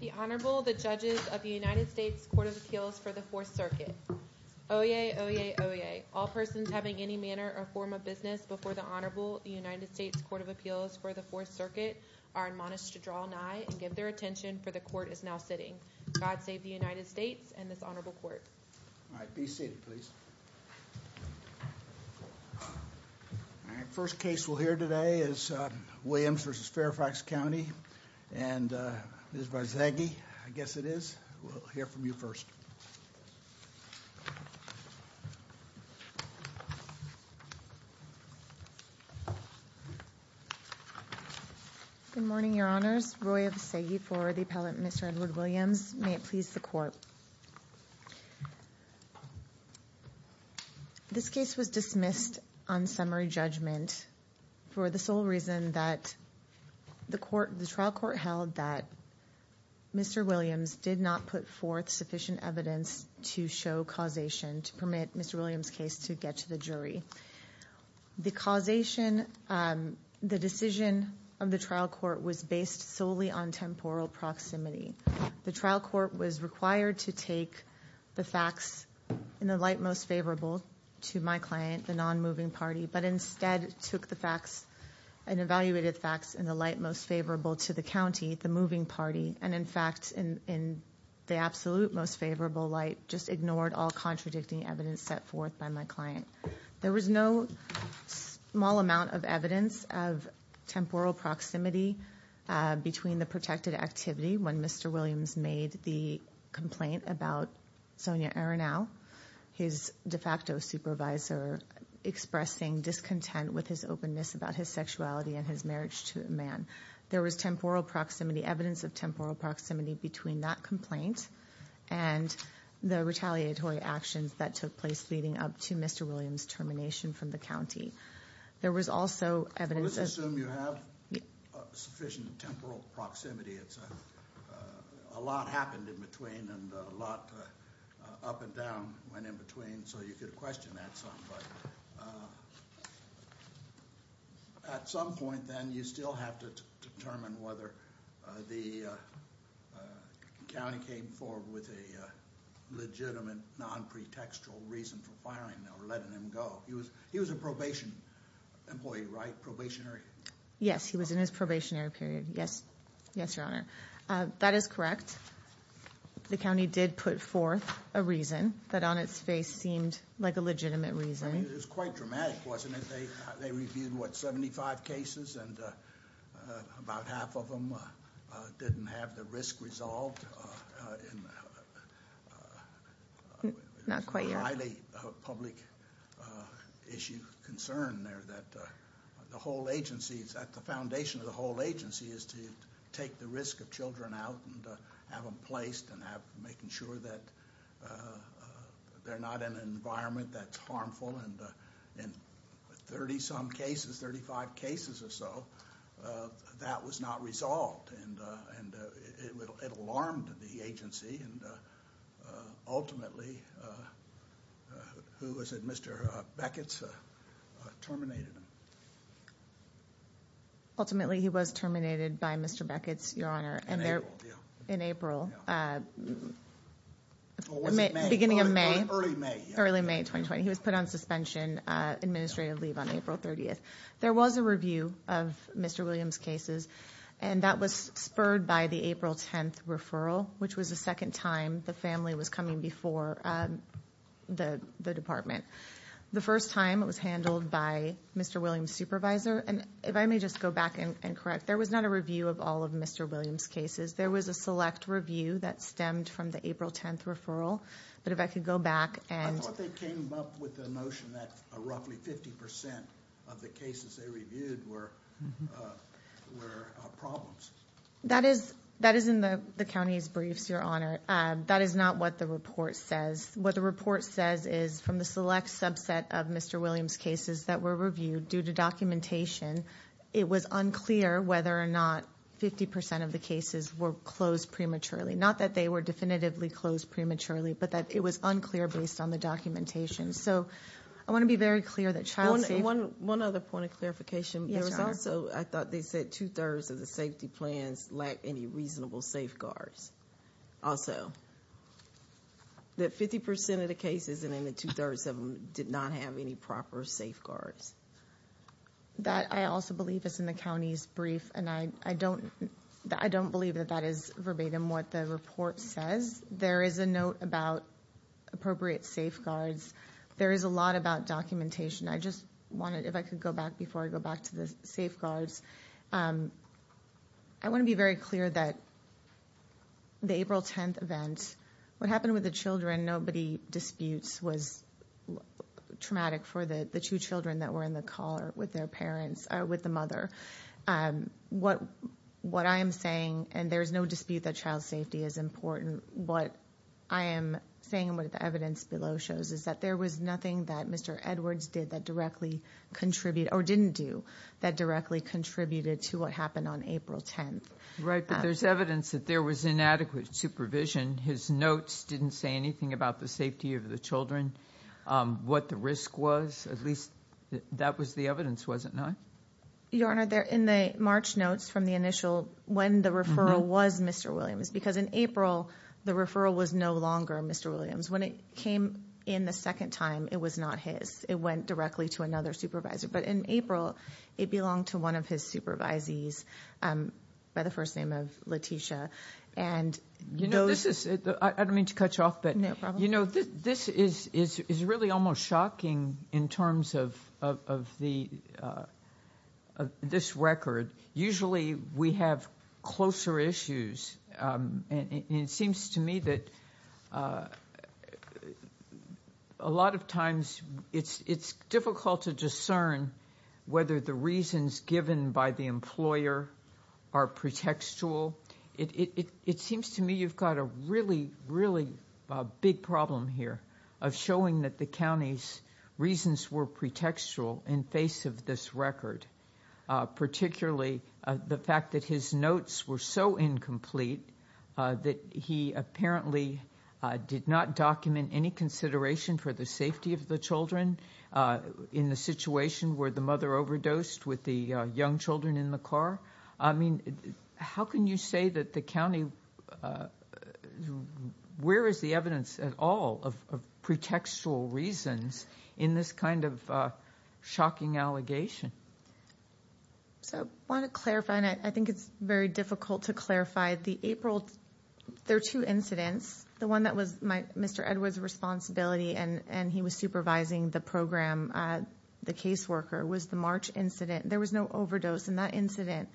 The Honorable, the Judges of the United States Court of Appeals for the Fourth Circuit. Oyez, oyez, oyez. All persons having any manner or form of business before the Honorable United States Court of Appeals for the Fourth Circuit are admonished to draw an eye and give their attention for the Court is now sitting. God save the United States and this Honorable Court. All right, be seated please. First case we'll hear today is Williams v. Fairfax County and Ms. Vizaghi, I guess it is, will hear from you first. Good morning, Your Honors. Roy Vizaghi for the appellant Mr. Edward Williams. May it please the Court. This case was dismissed on summary judgment for the sole reason that the trial court held that Mr. Williams did not put forth sufficient evidence to show causation to permit Mr. Williams case to get to the jury. The causation, the decision of the trial court was based solely on temporal proximity. The trial court was required to take the facts in the light most favorable to my client, the non-moving party, but instead took the facts and evaluated the facts in the light most favorable to the county, the moving party, and in fact in the absolute most favorable light, just ignored all contradicting evidence set forth by my client. There was no small amount of evidence of temporal proximity between the protected activity when Mr. Williams made the complaint about Sonia Arenal, his de facto supervisor, expressing discontent with his openness about his sexuality and his marriage to a man. There was temporal proximity, evidence of temporal proximity between that complaint and the retaliatory actions that took place leading up to Mr. Williams' termination from the county. There was also evidence... Let's assume you have sufficient temporal proximity. A lot happened in between and a lot up and down went in between, so you could question that some. At some point then you still have to determine whether the county came forward with a legitimate non-pretextual reason for firing him or letting him go. He was a probation employee, right? Probationary? Yes, he was in his probationary period. Yes, Your Honor. That is correct. The county did put forth a reason that on its face seemed like a legitimate reason. I mean, it was quite dramatic, wasn't it? They reviewed, what, 75 cases and about half of them didn't have the risk resolved. Not quite yet. There's a highly public issue concern there that the whole agency, at the foundation of the whole agency, is to take the risk of children out and have them placed and making sure that they're not in an environment that's harmful. In 30-some cases, 35 cases or so, that was not resolved. It alarmed the agency and ultimately, who was it, Mr. Becketts terminated him. Ultimately he was terminated by Mr. Becketts, Your Honor. In April. Beginning of May. Early May. Early May 2020. He was put on suspension, administrative leave on April 30th. There was a review of Mr. Williams' cases and that was spurred by the April 10th referral, which was the second time the family was coming before the department. The first time it was handled by Mr. Williams' supervisor and if I may just go back and correct, there was not a review of all of Mr. Williams' cases. There was a select review that stemmed from the April 10th referral, but if I could go back and... I thought they came up with the notion that roughly 50% of the cases they reviewed were problems. That is in the county's briefs, Your Honor. That is not what the report says. What the report says is from the select subset of Mr. Williams' cases that were reviewed due to documentation, it was unclear whether or not 50% of the cases were closed prematurely. Not that they were definitively closed prematurely, but that it was unclear based on the documentation. So I want to be very clear that child safety... One other point of clarification. Yes, Your Honor. There was also, I thought they said two-thirds of the safety plans lacked any reasonable safeguards. Also, that 50% of the safety plans did not have any proper safeguards. That, I also believe, is in the county's brief and I don't believe that that is verbatim what the report says. There is a note about appropriate safeguards. There is a lot about documentation. I just wanted, if I could go back before I go back to the safeguards, I want to be very clear that the April 10th event, what happened with the children, nobody disputes, was traumatic for the two children that were in the car with their parents, with the mother. What I am saying, and there is no dispute that child safety is important, what I am saying and what the evidence below shows is that there was nothing that Mr. Edwards did that directly contributed, or didn't do, that directly contributed to what happened on April 10th. There is evidence that there was inadequate supervision. His notes didn't say anything about the safety of the children, what the risk was. At least, that was the evidence, was it not? Your Honor, in the March notes from the initial, when the referral was Mr. Williams, because in April, the referral was no longer Mr. Williams. When it came in the second time, it was not his. It went directly to another supervisor. But in April, it belonged to one of his supervisees, by the first name of Letitia, and you know this is, I don't mean to cut you off, but you know, this is really almost shocking in terms of this record. Usually, we have closer issues, and it seems to me that a lot of times, it's difficult to discern whether the reasons given by the employer are pretextual. It seems to me you've got a really, really big problem here of showing that the county's reasons were pretextual in face of this record, particularly the fact that his notes were so incomplete that he apparently did not document any consideration for the safety of the children in the situation where the mother overdosed with the young children in the car. I mean, how can you say that the county, where is the evidence at all of pretextual reasons in this kind of shocking allegation? So, I want to clarify, and I think it's very difficult to clarify. The April, there are two incidents. The one that was Mr. Edwards' responsibility, and he was supervising the program, the caseworker, was the March incident. There was no overdose in that incident.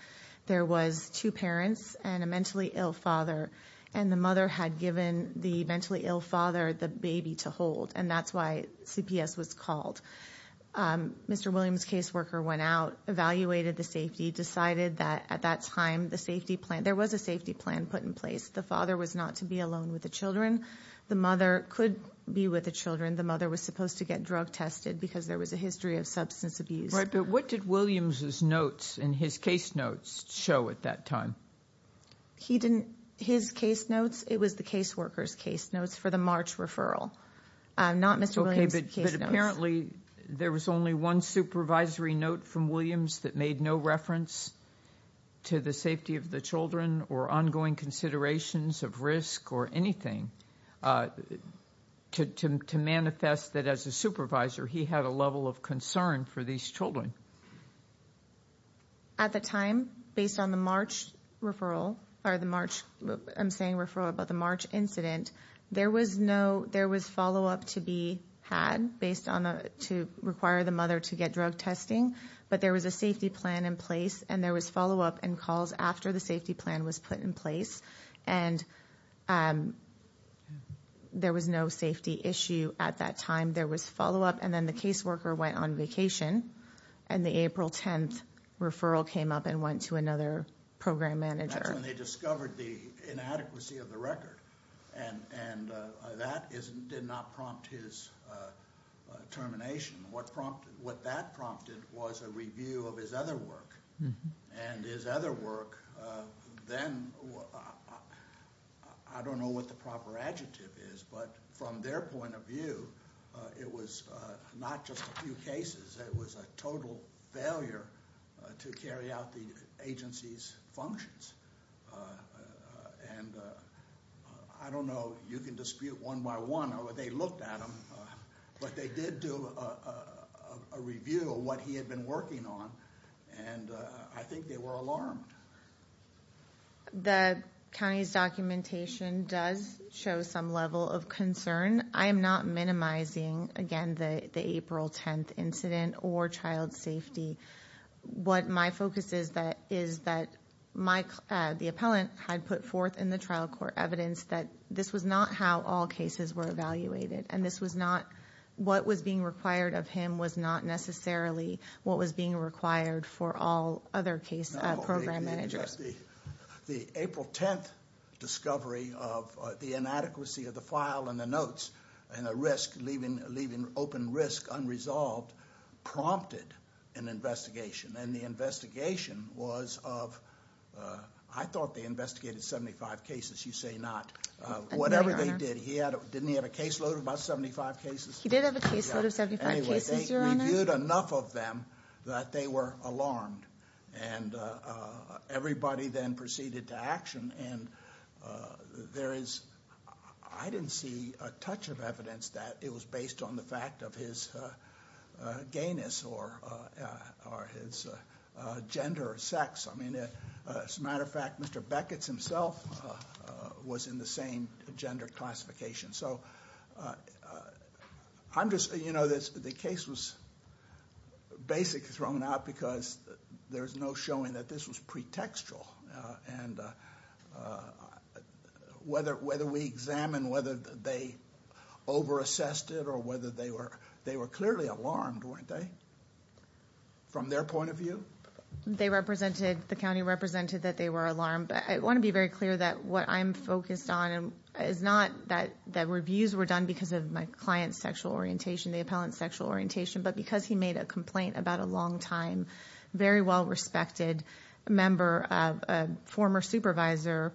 There was two parents and a mentally ill father, and the mother had given the mentally ill father the baby to hold, and that's why CPS was called. Mr. Williams' caseworker went out, evaluated the safety, decided that at that time, the safety plan, there was a safety plan put in place. The father was not to be alone with the children. The mother could be with the children. The mother was supposed to get drug tested because there was a history of substance abuse. Right, but what did Williams' notes and his case notes show at that time? He didn't, his case notes, it was the caseworker's case notes for the March referral, not Mr. Williams' case notes. Okay, but apparently, there was only one supervisory note from Williams that made no reference to the safety of the children or ongoing considerations of risk or anything to manifest that as a supervisor, he had a level of concern for these children. At the time, based on the March referral, or the March, I'm saying referral, but the March incident, there was no, there was follow-up to be had based on, to require the mother to get drug testing, but there was a safety plan in place, and there was follow-up and calls after the safety plan was put in place, and there was no safety issue at that time. There was follow-up, and then the caseworker went on vacation, and the April 10th referral came up and went to another program manager. That's when they discovered the inadequacy of the record, and that did not prompt his termination. What that prompted was a review of his other work, and his other work, then, I don't know what the proper adjective is, but from their point of view, it was not just a few cases. It was a total failure to carry out the agency's functions, and I don't know. You can but they did do a review of what he had been working on, and I think they were alarmed. The county's documentation does show some level of concern. I am not minimizing, again, the April 10th incident or child safety. What my focus is, is that the appellant had put forth in the trial court evidence that this was not how all cases were evaluated, and this was not what was being required of him, was not necessarily what was being required for all other case program managers. The April 10th discovery of the inadequacy of the file and the notes, and the risk, leaving open risk unresolved, prompted an investigation, and the investigation was of, I thought they had investigated 75 cases. You say not. Whatever they did, didn't he have a caseload of about 75 cases? He did have a caseload of 75 cases, your honor. Anyway, they reviewed enough of them that they were alarmed, and everybody then proceeded to action, and I didn't see a touch of evidence that it was based on the fact of his gayness or his gender or sex. As a matter of fact, Mr. Beckett's himself was in the same gender classification. So, I'm just, you know, the case was basically thrown out because there's no showing that this was pretextual, and whether we examine whether they over-assessed it or whether they were clearly alarmed, weren't they? From their point of view? They represented, the county represented that they were alarmed, but I want to be very clear that what I'm focused on is not that reviews were done because of my client's sexual orientation, the appellant's sexual orientation, but because he made a complaint about a long-time, very well-respected member, a former supervisor,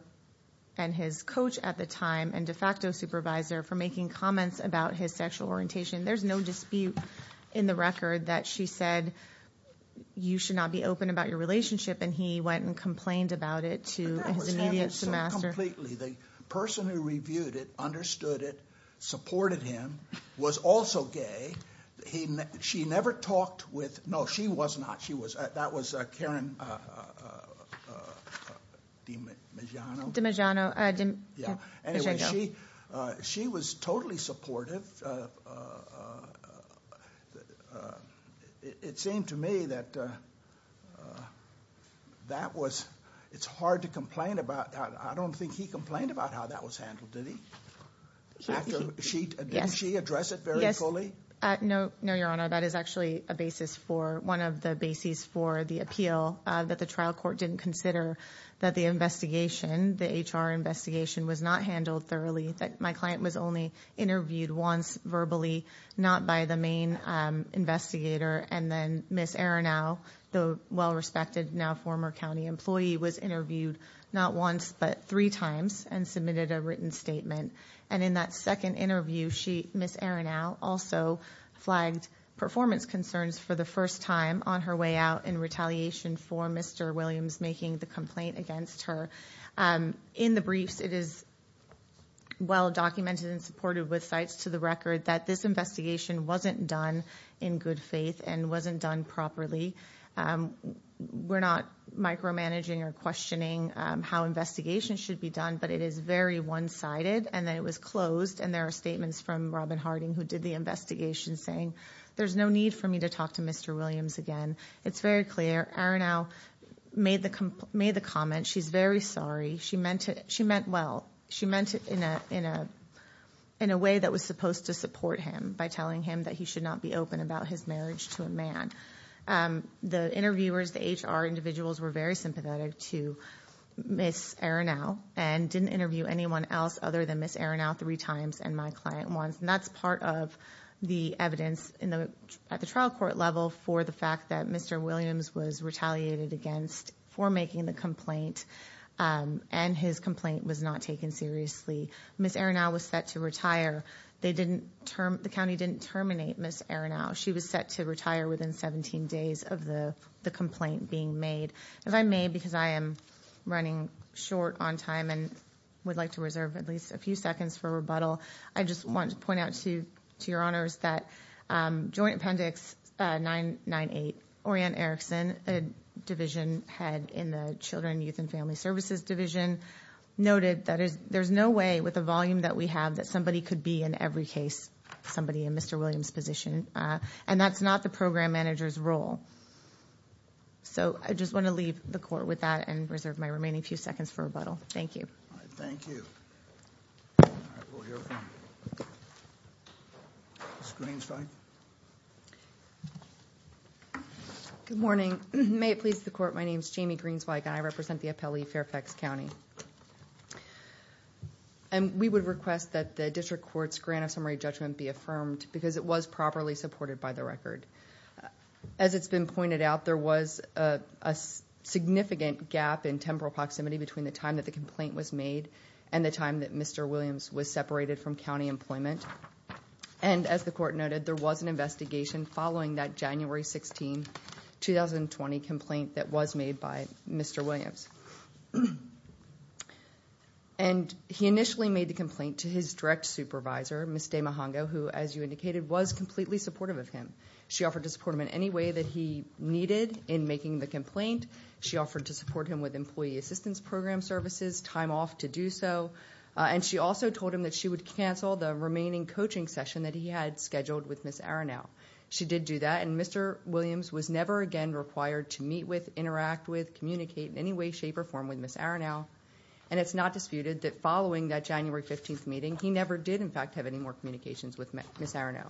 and his coach at the time, and de facto supervisor for making comments about his sexual orientation. There's no dispute in the record that she said, you should not be open about your relationship, and he went and complained about it to his immediate supervisor. That was handled so completely. The person who reviewed it, understood it, supported him, was also gay. She never talked with, no, she was not. That was Karen DiMeggiano. DiMeggiano. Anyway, she was totally supportive. It seemed to me that that was, it's hard to complain about. I don't think he complained about how that was handled, did he? Did she address it very fully? No, your honor. That is actually a basis for, one of the bases for the appeal that the trial court didn't consider that the investigation, the HR investigation, was not handled thoroughly, that my client was only interviewed once verbally, not by the main investigator, and then Ms. Arenow, the well-respected, now former county employee, was interviewed not once, but three times, and submitted a written statement. And in that second interview, Ms. Arenow also flagged performance concerns for the first time on her way out in retaliation for Mr. Williams making the complaint against her. In the briefs, it is well documented and supported with cites to the record that this investigation wasn't done in good faith and wasn't done properly. We're not micromanaging or questioning how investigation should be done, but it is very one-sided, and that it was closed. And there are statements from Robin Harding, who did the investigation, saying, there's no need for me to talk to Mr. Williams again. It's very clear. Arenow made the comment. She's very sorry. She meant it. She meant well. She meant it in a way that was supposed to support him, by telling him that he should not be open about his marriage to a man. The interviewers, the HR individuals, were very sympathetic to Ms. Arenow and didn't interview anyone else other than Ms. Arenow three times and my client once. And that's part of the evidence at the trial court level for the fact that Mr. Williams was retaliated against for making the complaint, and his complaint was not taken seriously. Ms. Arenow was set to retire. The county didn't terminate Ms. Arenow. She was set to retire within 17 days of the complaint being made. If I may, because I am running short on time and would like to reserve at least a few seconds for rebuttal, I just want to point out to your honors that Joint Appendix 998, Orianne Erickson, a division head in the Children, Youth, and Family Services Division, noted that there's no way with the volume that we have that somebody could be in every case, somebody in Mr. Williams' position. And that's not the program manager's role. So I just want to leave the court with that and reserve my remaining few seconds for rebuttal. Thank you. All right, thank you. All right, we'll hear from Ms. Greenspike. Good morning. May it please the court, my name is Jamie Greenspike and I represent the appellee, Fairfax County. And we would request that the district court's grant of summary judgment be affirmed because it was properly supported by the record. As it's been pointed out, there was a significant gap in temporal proximity between the time that the complaint was made and the time that Mr. Williams was separated from county employment. And as the court noted, there was an investigation following that January 16, 2020 complaint that was made by Mr. Williams. And he initially made the complaint to his direct supervisor, Ms. Damahongo, who, as you indicated, was completely supportive of him. She offered to support him in any way that he needed in making the complaint. She offered to support him with employee assistance program services, time off to do so. And she also told him that she would cancel the remaining coaching session that he had scheduled with Ms. Arenow. She did do that and Mr. Williams was never again required to meet with, interact with, communicate in any way, shape or form with Ms. Arenow. And it's not disputed that following that January 15 meeting, he never did in fact have any more communications with Ms. Arenow.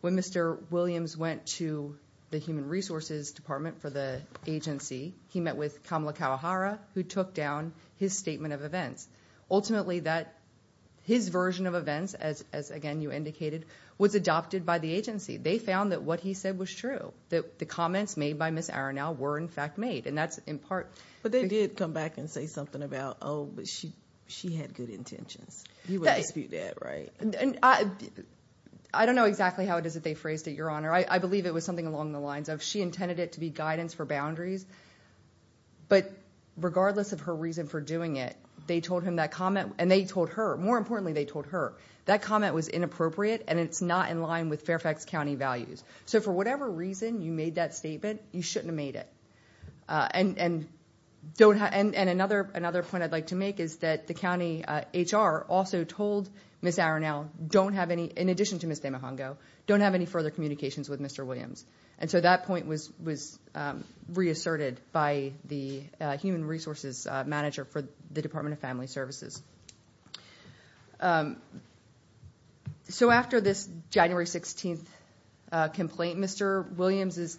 When Mr. Williams went to the human resources department for the agency, he met with Kamala Kawahara, who took down his statement of events. Ultimately, that his version of events, as again, you indicated, was adopted by the agency. They found that what he said was true, that the comments made by Ms. Arenow were in fact made. And that's in part... But they did come back and say something about, oh, but she had good intentions. You would dispute that, right? I don't know exactly how it is that they phrased it, Your Honor. I believe it was something along the lines of she intended it to be guidance for boundaries. But regardless of her reason for doing it, they told him that comment and they told her, more importantly, they told her that comment was inappropriate and it's not in line with Fairfax County values. So for whatever reason you made that statement, you shouldn't have made it. And another point I'd like to make is that the county HR also told Ms. Arenow, in addition to Ms. Damohongo, don't have any further communications with Mr. Williams. And so that point was reasserted by the human resources manager for the Department of Family Services. So after this January 16th complaint, Mr. Williams is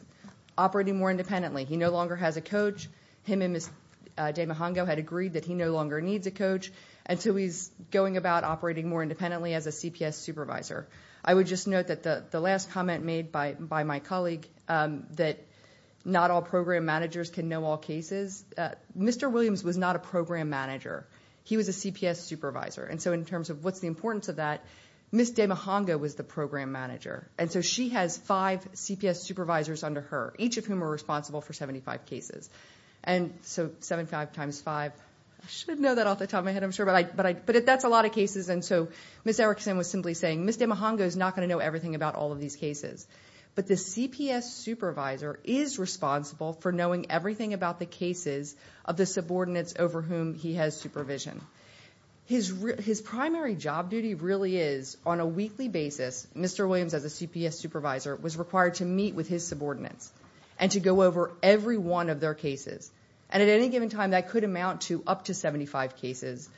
operating more independently. He no longer has a coach. Him and Ms. Damohongo had agreed that he no longer needs a coach. And so he's going about operating more independently as a CPS supervisor. I would just note that the last comment made by my colleague that not all program managers can know all cases, Mr. Williams was not a program manager. He was a CPS supervisor. And so in terms of what's the importance of that, Ms. Damohongo was the program manager. And so she has five CPS supervisors under her, each of whom are responsible for 75 cases. And so seven, five times five, I should know that off the top of my head, I'm sure. But that's a lot of cases. And so Ms. Erickson was simply saying, Ms. Damohongo is not going to know everything about all of these cases. But the CPS supervisor is responsible for knowing everything about the cases of the subordinates over whom he has supervision. His primary job duty really is, on a weekly basis, Mr. Williams as a CPS supervisor was required to meet with his subordinates and to go over every one of their cases. And at any given time, that could amount to up to 75 cases.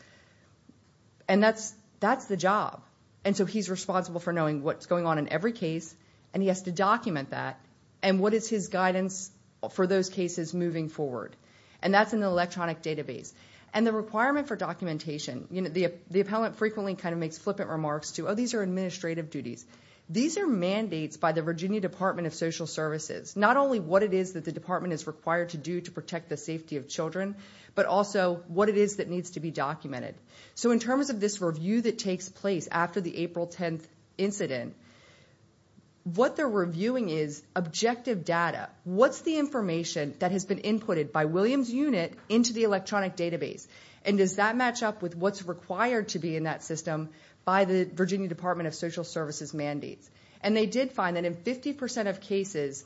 And that's the job. And so he's responsible for knowing what's going on in every case, and he has to document that, and what is his guidance for those cases moving forward. And that's an electronic database. And the requirement for documentation, you know, the appellant frequently kind of makes flippant remarks to, oh, these are administrative duties. These are mandates by the Virginia Department of Social Services to protect the safety of children, but also what it is that needs to be documented. So in terms of this review that takes place after the April 10th incident, what they're reviewing is objective data. What's the information that has been inputted by Williams' unit into the electronic database? And does that match up with what's required to be in that system by the Virginia Department of Social Services mandates? And they did find that in 50% of cases,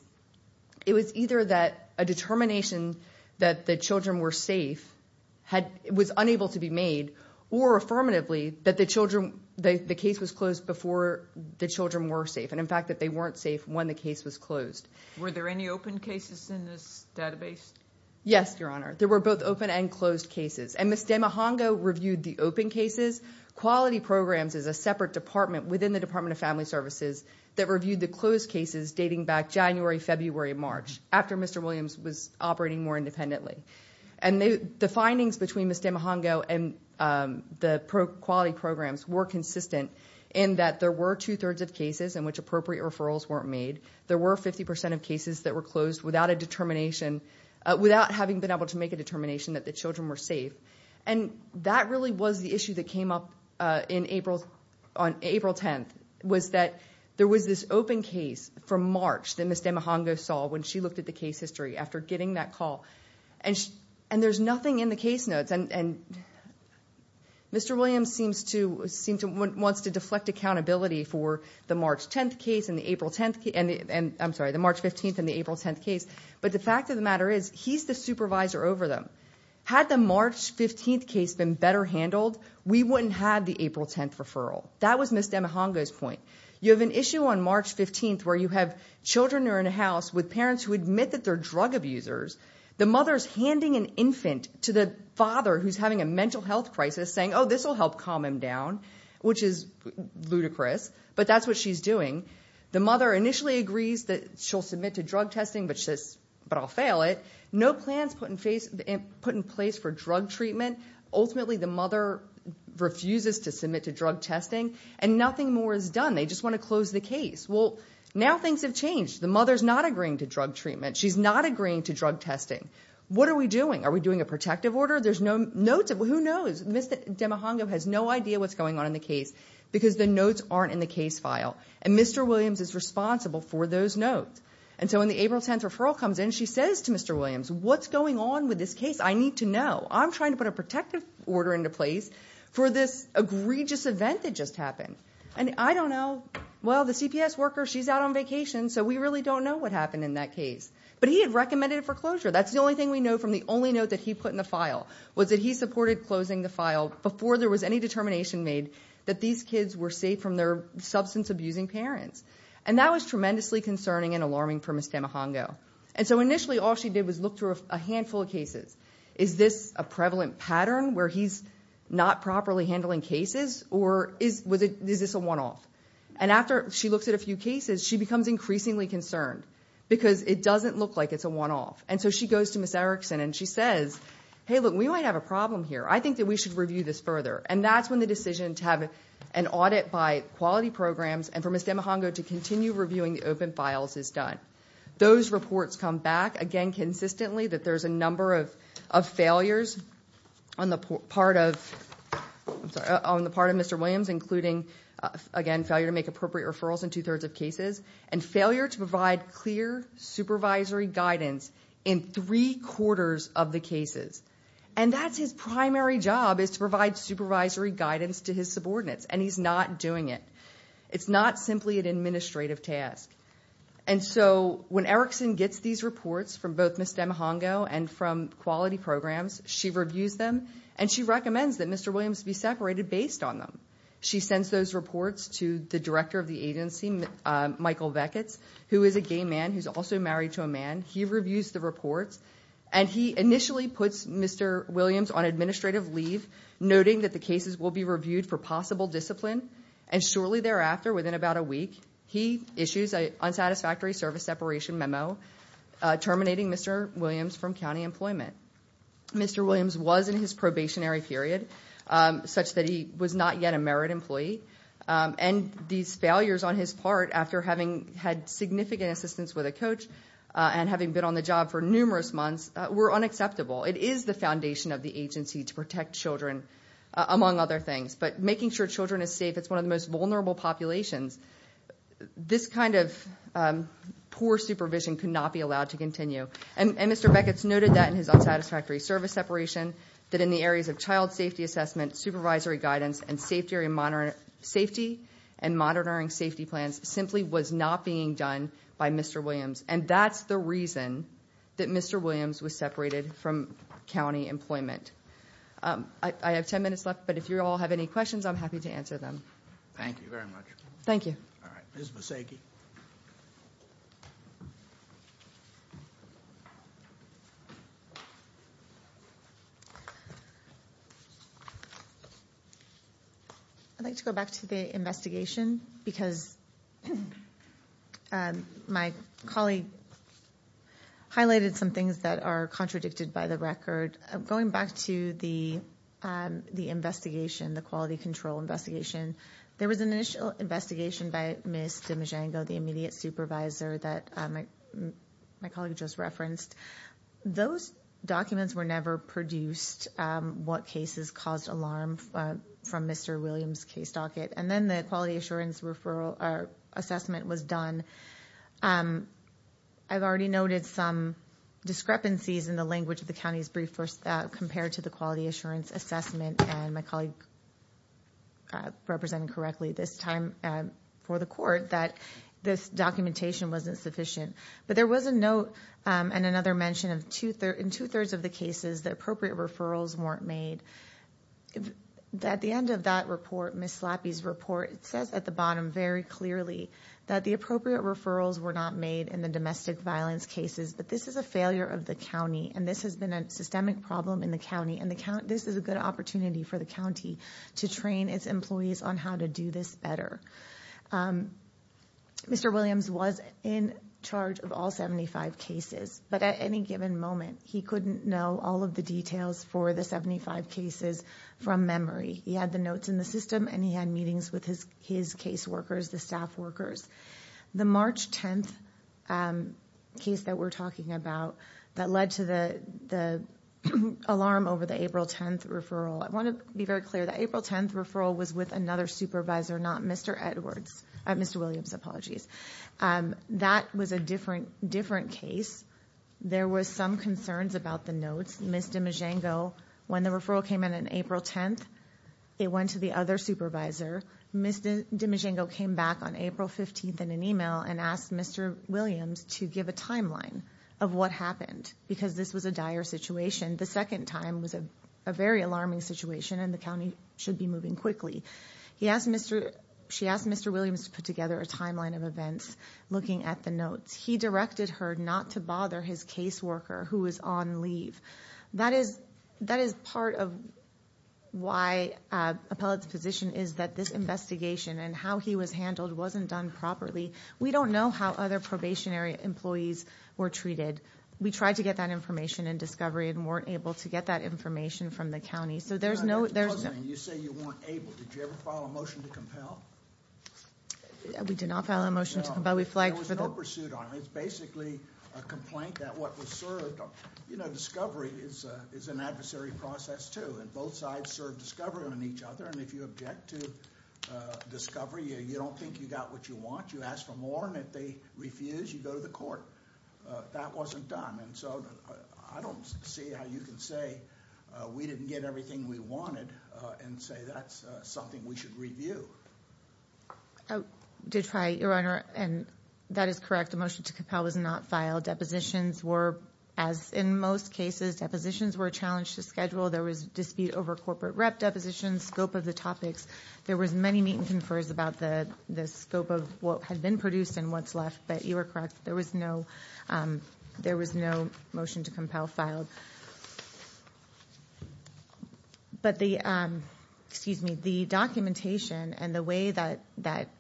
it was either that determination that the children were safe, was unable to be made, or affirmatively that the children, the case was closed before the children were safe. And in fact, that they weren't safe when the case was closed. Were there any open cases in this database? Yes, Your Honor. There were both open and closed cases. And Ms. Demahongo reviewed the open cases. Quality Programs is a separate department within the Department of Family Services that reviewed the closed cases dating back January, February, March, after Mr. Williams was operating more independently. And the findings between Ms. Demahongo and the Quality Programs were consistent in that there were two thirds of cases in which appropriate referrals weren't made. There were 50% of cases that were closed without a determination, without having been able to make a determination that the children were safe. And that really was the issue that came up on April 10th, was that there was this open case from March that Ms. Demahongo saw when she looked at the case history after getting that call. And there's nothing in the case notes. And Mr. Williams seems to, wants to deflect accountability for the March 10th case and the April 10th, and I'm sorry, the March 15th and the April 10th case. But the fact of the matter is, he's the supervisor over them. Had the March 15th case been better handled, we wouldn't have the April 10th referral. That was Ms. Demahongo's point. You have an issue on March 15th where you have children who are in a house with parents who admit that they're drug abusers. The mother's handing an infant to the father who's having a mental health crisis saying, oh, this will help calm him down, which is ludicrous. But that's what she's doing. The mother initially agrees that she'll submit to drug testing, but she says, but I'll fail it. No plans put in place for drug treatment. Ultimately, the mother refuses to submit to drug testing and nothing more is done. They just want to close the case. Well, now things have changed. The mother's not agreeing to drug treatment. She's not agreeing to drug testing. What are we doing? Are we doing a protective order? There's no notes. Who knows? Ms. Demahongo has no idea what's going on in the case because the notes aren't in the case file. And Mr. Williams is responsible for those notes. And so when the April 10th referral comes in, she says to Mr. Williams, what's going on with this case? I need to know. I'm trying to put a for this egregious event that just happened. And I don't know. Well, the CPS worker, she's out on vacation, so we really don't know what happened in that case. But he had recommended it for closure. That's the only thing we know from the only note that he put in the file, was that he supported closing the file before there was any determination made that these kids were safe from their substance abusing parents. And that was tremendously concerning and alarming for Ms. Demahongo. And so initially, all she did was look through a handful of cases. Is this a prevalent pattern where he's not properly handling cases? Or is this a one-off? And after she looks at a few cases, she becomes increasingly concerned because it doesn't look like it's a one-off. And so she goes to Ms. Erickson and she says, hey, look, we might have a problem here. I think that we should review this further. And that's when the decision to have an audit by quality programs and for Ms. Demahongo to continue reviewing the open files is done. Those reports come back, again, consistently that there's a number of failures on the part of Mr. Williams, including, again, failure to make appropriate referrals in two thirds of cases, and failure to provide clear supervisory guidance in three quarters of the cases. And that's his primary job, is to provide supervisory guidance to his subordinates. And he's not doing it. It's not simply an administrative task. And so when Erickson gets these reports from both Ms. Demahongo and from quality programs, she reviews them. And she recommends that Mr. Williams be separated based on them. She sends those reports to the director of the agency, Michael Vecchetz, who is a gay man who's also married to a man. He reviews the reports. And he initially puts Mr. Williams on administrative leave, noting that the cases will be reviewed for possible discipline. And shortly thereafter, within about a week, he issues an unsatisfactory service separation memo terminating Mr. Williams from county employment. Mr. Williams was in his probationary period, such that he was not yet a merit employee. And these failures on his part, after having had significant assistance with a coach and having been on the job for numerous months, were unacceptable. It is the foundation of the agency to protect children, among other things. But making sure children is safe, it's one of the most vulnerable populations. This kind of poor supervision could not be allowed to continue. And Mr. Vecchetz noted that in his unsatisfactory service separation, that in the areas of child safety assessment, supervisory guidance, and safety and monitoring safety plans, simply was not being done by Mr. Williams. And that's the reason that Mr. Williams was separated from county employment. I have 10 minutes left, but if you all have any questions, I'm happy to answer them. Thank you very much. Thank you. All right. Ms. Maseki. I'd like to go back to the investigation, because my colleague highlighted some things that are contradicted by the record. Going back to the investigation, the quality control investigation, there was an initial investigation by Ms. DiMegengo, the immediate supervisor, that my colleague just referenced. Those documents were never produced, what cases caused alarm from Mr. Williams' case docket. And then the quality assurance assessment was done. I've already noted some discrepancies in the language of the county's brief compared to the quality assurance assessment. And my colleague represented correctly this time for the court, that this documentation wasn't sufficient. But there was a note and another mention of in two-thirds of the cases, the appropriate referrals weren't made. At the end of that report, Ms. Slappy's report, it says at the bottom very clearly that the appropriate referrals were not made in the domestic violence cases, but this is a failure of the county. And this has been a systemic problem in the county. And this is a good opportunity for the county to train its employees on how to do this better. Mr. Williams was in charge of all 75 cases. But at any given moment, he couldn't know all of the details for the 75 cases from memory. He had the notes in the system and he had meetings with his case workers, the staff workers. The March 10th case that we're talking about that led to the the alarm over the April 10th referral. I want to be very clear, the April 10th referral was with another supervisor, not Mr. Williams. That was a different case. There were some concerns about the notes. Ms. DiMegengio, when the referral came in on April 10th, it went to the other supervisor. Ms. DiMegengio came back on April 15th in an email and asked Williams to give a timeline of what happened because this was a dire situation. The second time was a very alarming situation and the county should be moving quickly. She asked Mr. Williams to put together a timeline of events looking at the notes. He directed her not to bother his case worker who was on leave. That is part of why Appellate's position is that this investigation and how he was handled wasn't done properly. We don't know how other probationary employees were treated. We tried to get that information in Discovery and weren't able to get that information from the county. You say you weren't able. Did you ever file a motion to compel? We did not file a motion to compel. There was no pursuit on it. It's basically a complaint that what was served. Discovery is an adversary process too and both sides serve on each other. If you object to Discovery, you don't think you got what you want. You ask for more and if they refuse, you go to the court. That wasn't done. I don't see how you can say we didn't get everything we wanted and say that's something we should review. Did try, Your Honor. That is correct. The motion to compel was not filed. Depositions were, as in most cases, depositions were challenged to schedule. There was dispute over corporate depositions, scope of the topics. There was many meet and confers about the scope of what had been produced and what's left, but you were correct. There was no motion to compel filed. The documentation and the way that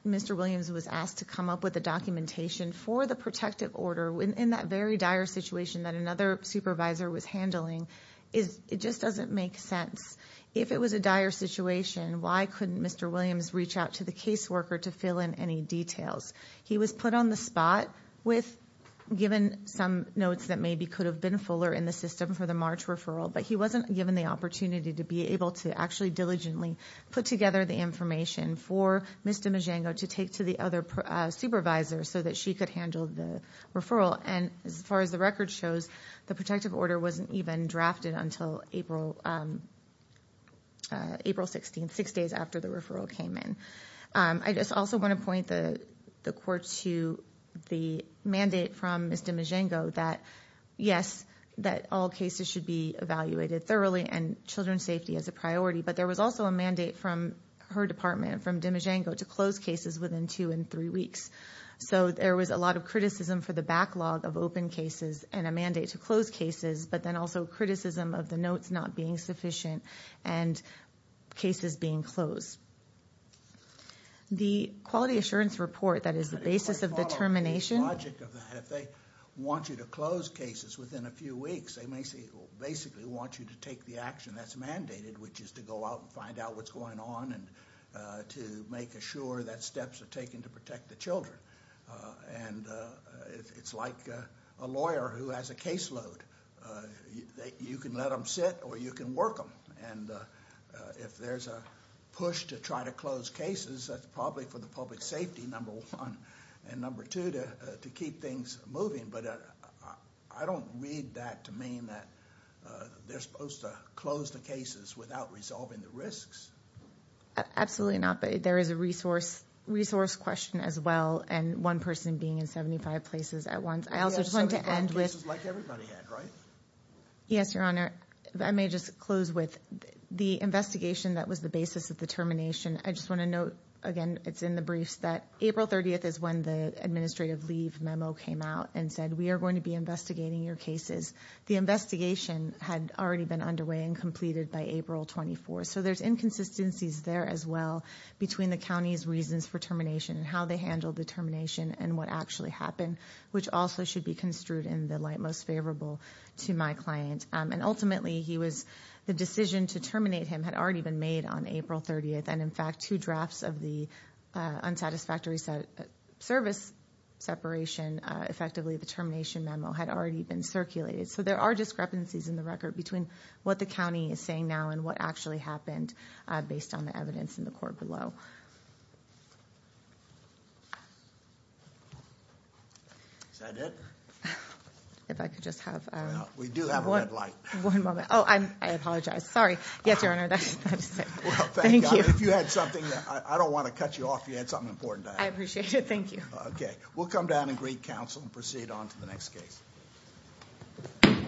Mr. Williams was asked to come up with the documentation for the protective order in that very dire situation that another supervisor was handling, it just doesn't make sense. If it was a dire situation, why couldn't Mr. Williams reach out to the case worker to fill in any details? He was put on the spot with given some notes that maybe could have been fuller in the system for the March referral, but he wasn't given the opportunity to be able to actually diligently put together the information for Ms. Domingo to take to the other supervisor so that she could handle the referral. As far as the record shows, the protective order wasn't drafted until April 16th, six days after the referral came in. I just also want to point the court to the mandate from Ms. Domingo that yes, all cases should be evaluated thoroughly and children's safety is a priority, but there was also a mandate from her department, from Domingo, to close cases within two and three weeks. There was a lot of criticism for backlog of open cases and a mandate to close cases, but then also criticism of the notes not being sufficient and cases being closed. The quality assurance report that is the basis of the termination... If they want you to close cases within a few weeks, they basically want you to take the action that's mandated, which is to go out and find out what's going on and to make sure that steps are taken to protect the children. It's like a lawyer who has a caseload. You can let them sit or you can work them. If there's a push to try to close cases, that's probably for the public safety, number one, and number two, to keep things moving. I don't read that to mean that they're supposed to close the cases without resolving the risks. Absolutely not, but there is a resource question as well and one person being in 75 places at once. Yes, Your Honor. I may just close with the investigation that was the basis of the termination. I just want to note, again, it's in the briefs that April 30th is when the administrative leave memo came out and said, we are going to be investigating your cases. The investigation had already been underway and completed by April 24th, so there's inconsistencies there as well between the county's reasons for termination and how they handled the termination and what actually happened, which also should be construed in the light most favorable to my client. Ultimately, the decision to terminate him had already been made on April 30th. In fact, two drafts of the unsatisfactory service separation, effectively the termination So there are discrepancies in the record between what the county is saying now and what actually happened based on the evidence in the court below. Is that it? If I could just have- We do have a red light. One moment. Oh, I apologize. Sorry. Yes, Your Honor. Thank you. If you had something, I don't want to cut you off if you had something important to add. I appreciate it. Thank you. Okay. We'll come down and greet counsel and proceed on to the next case. Thank you.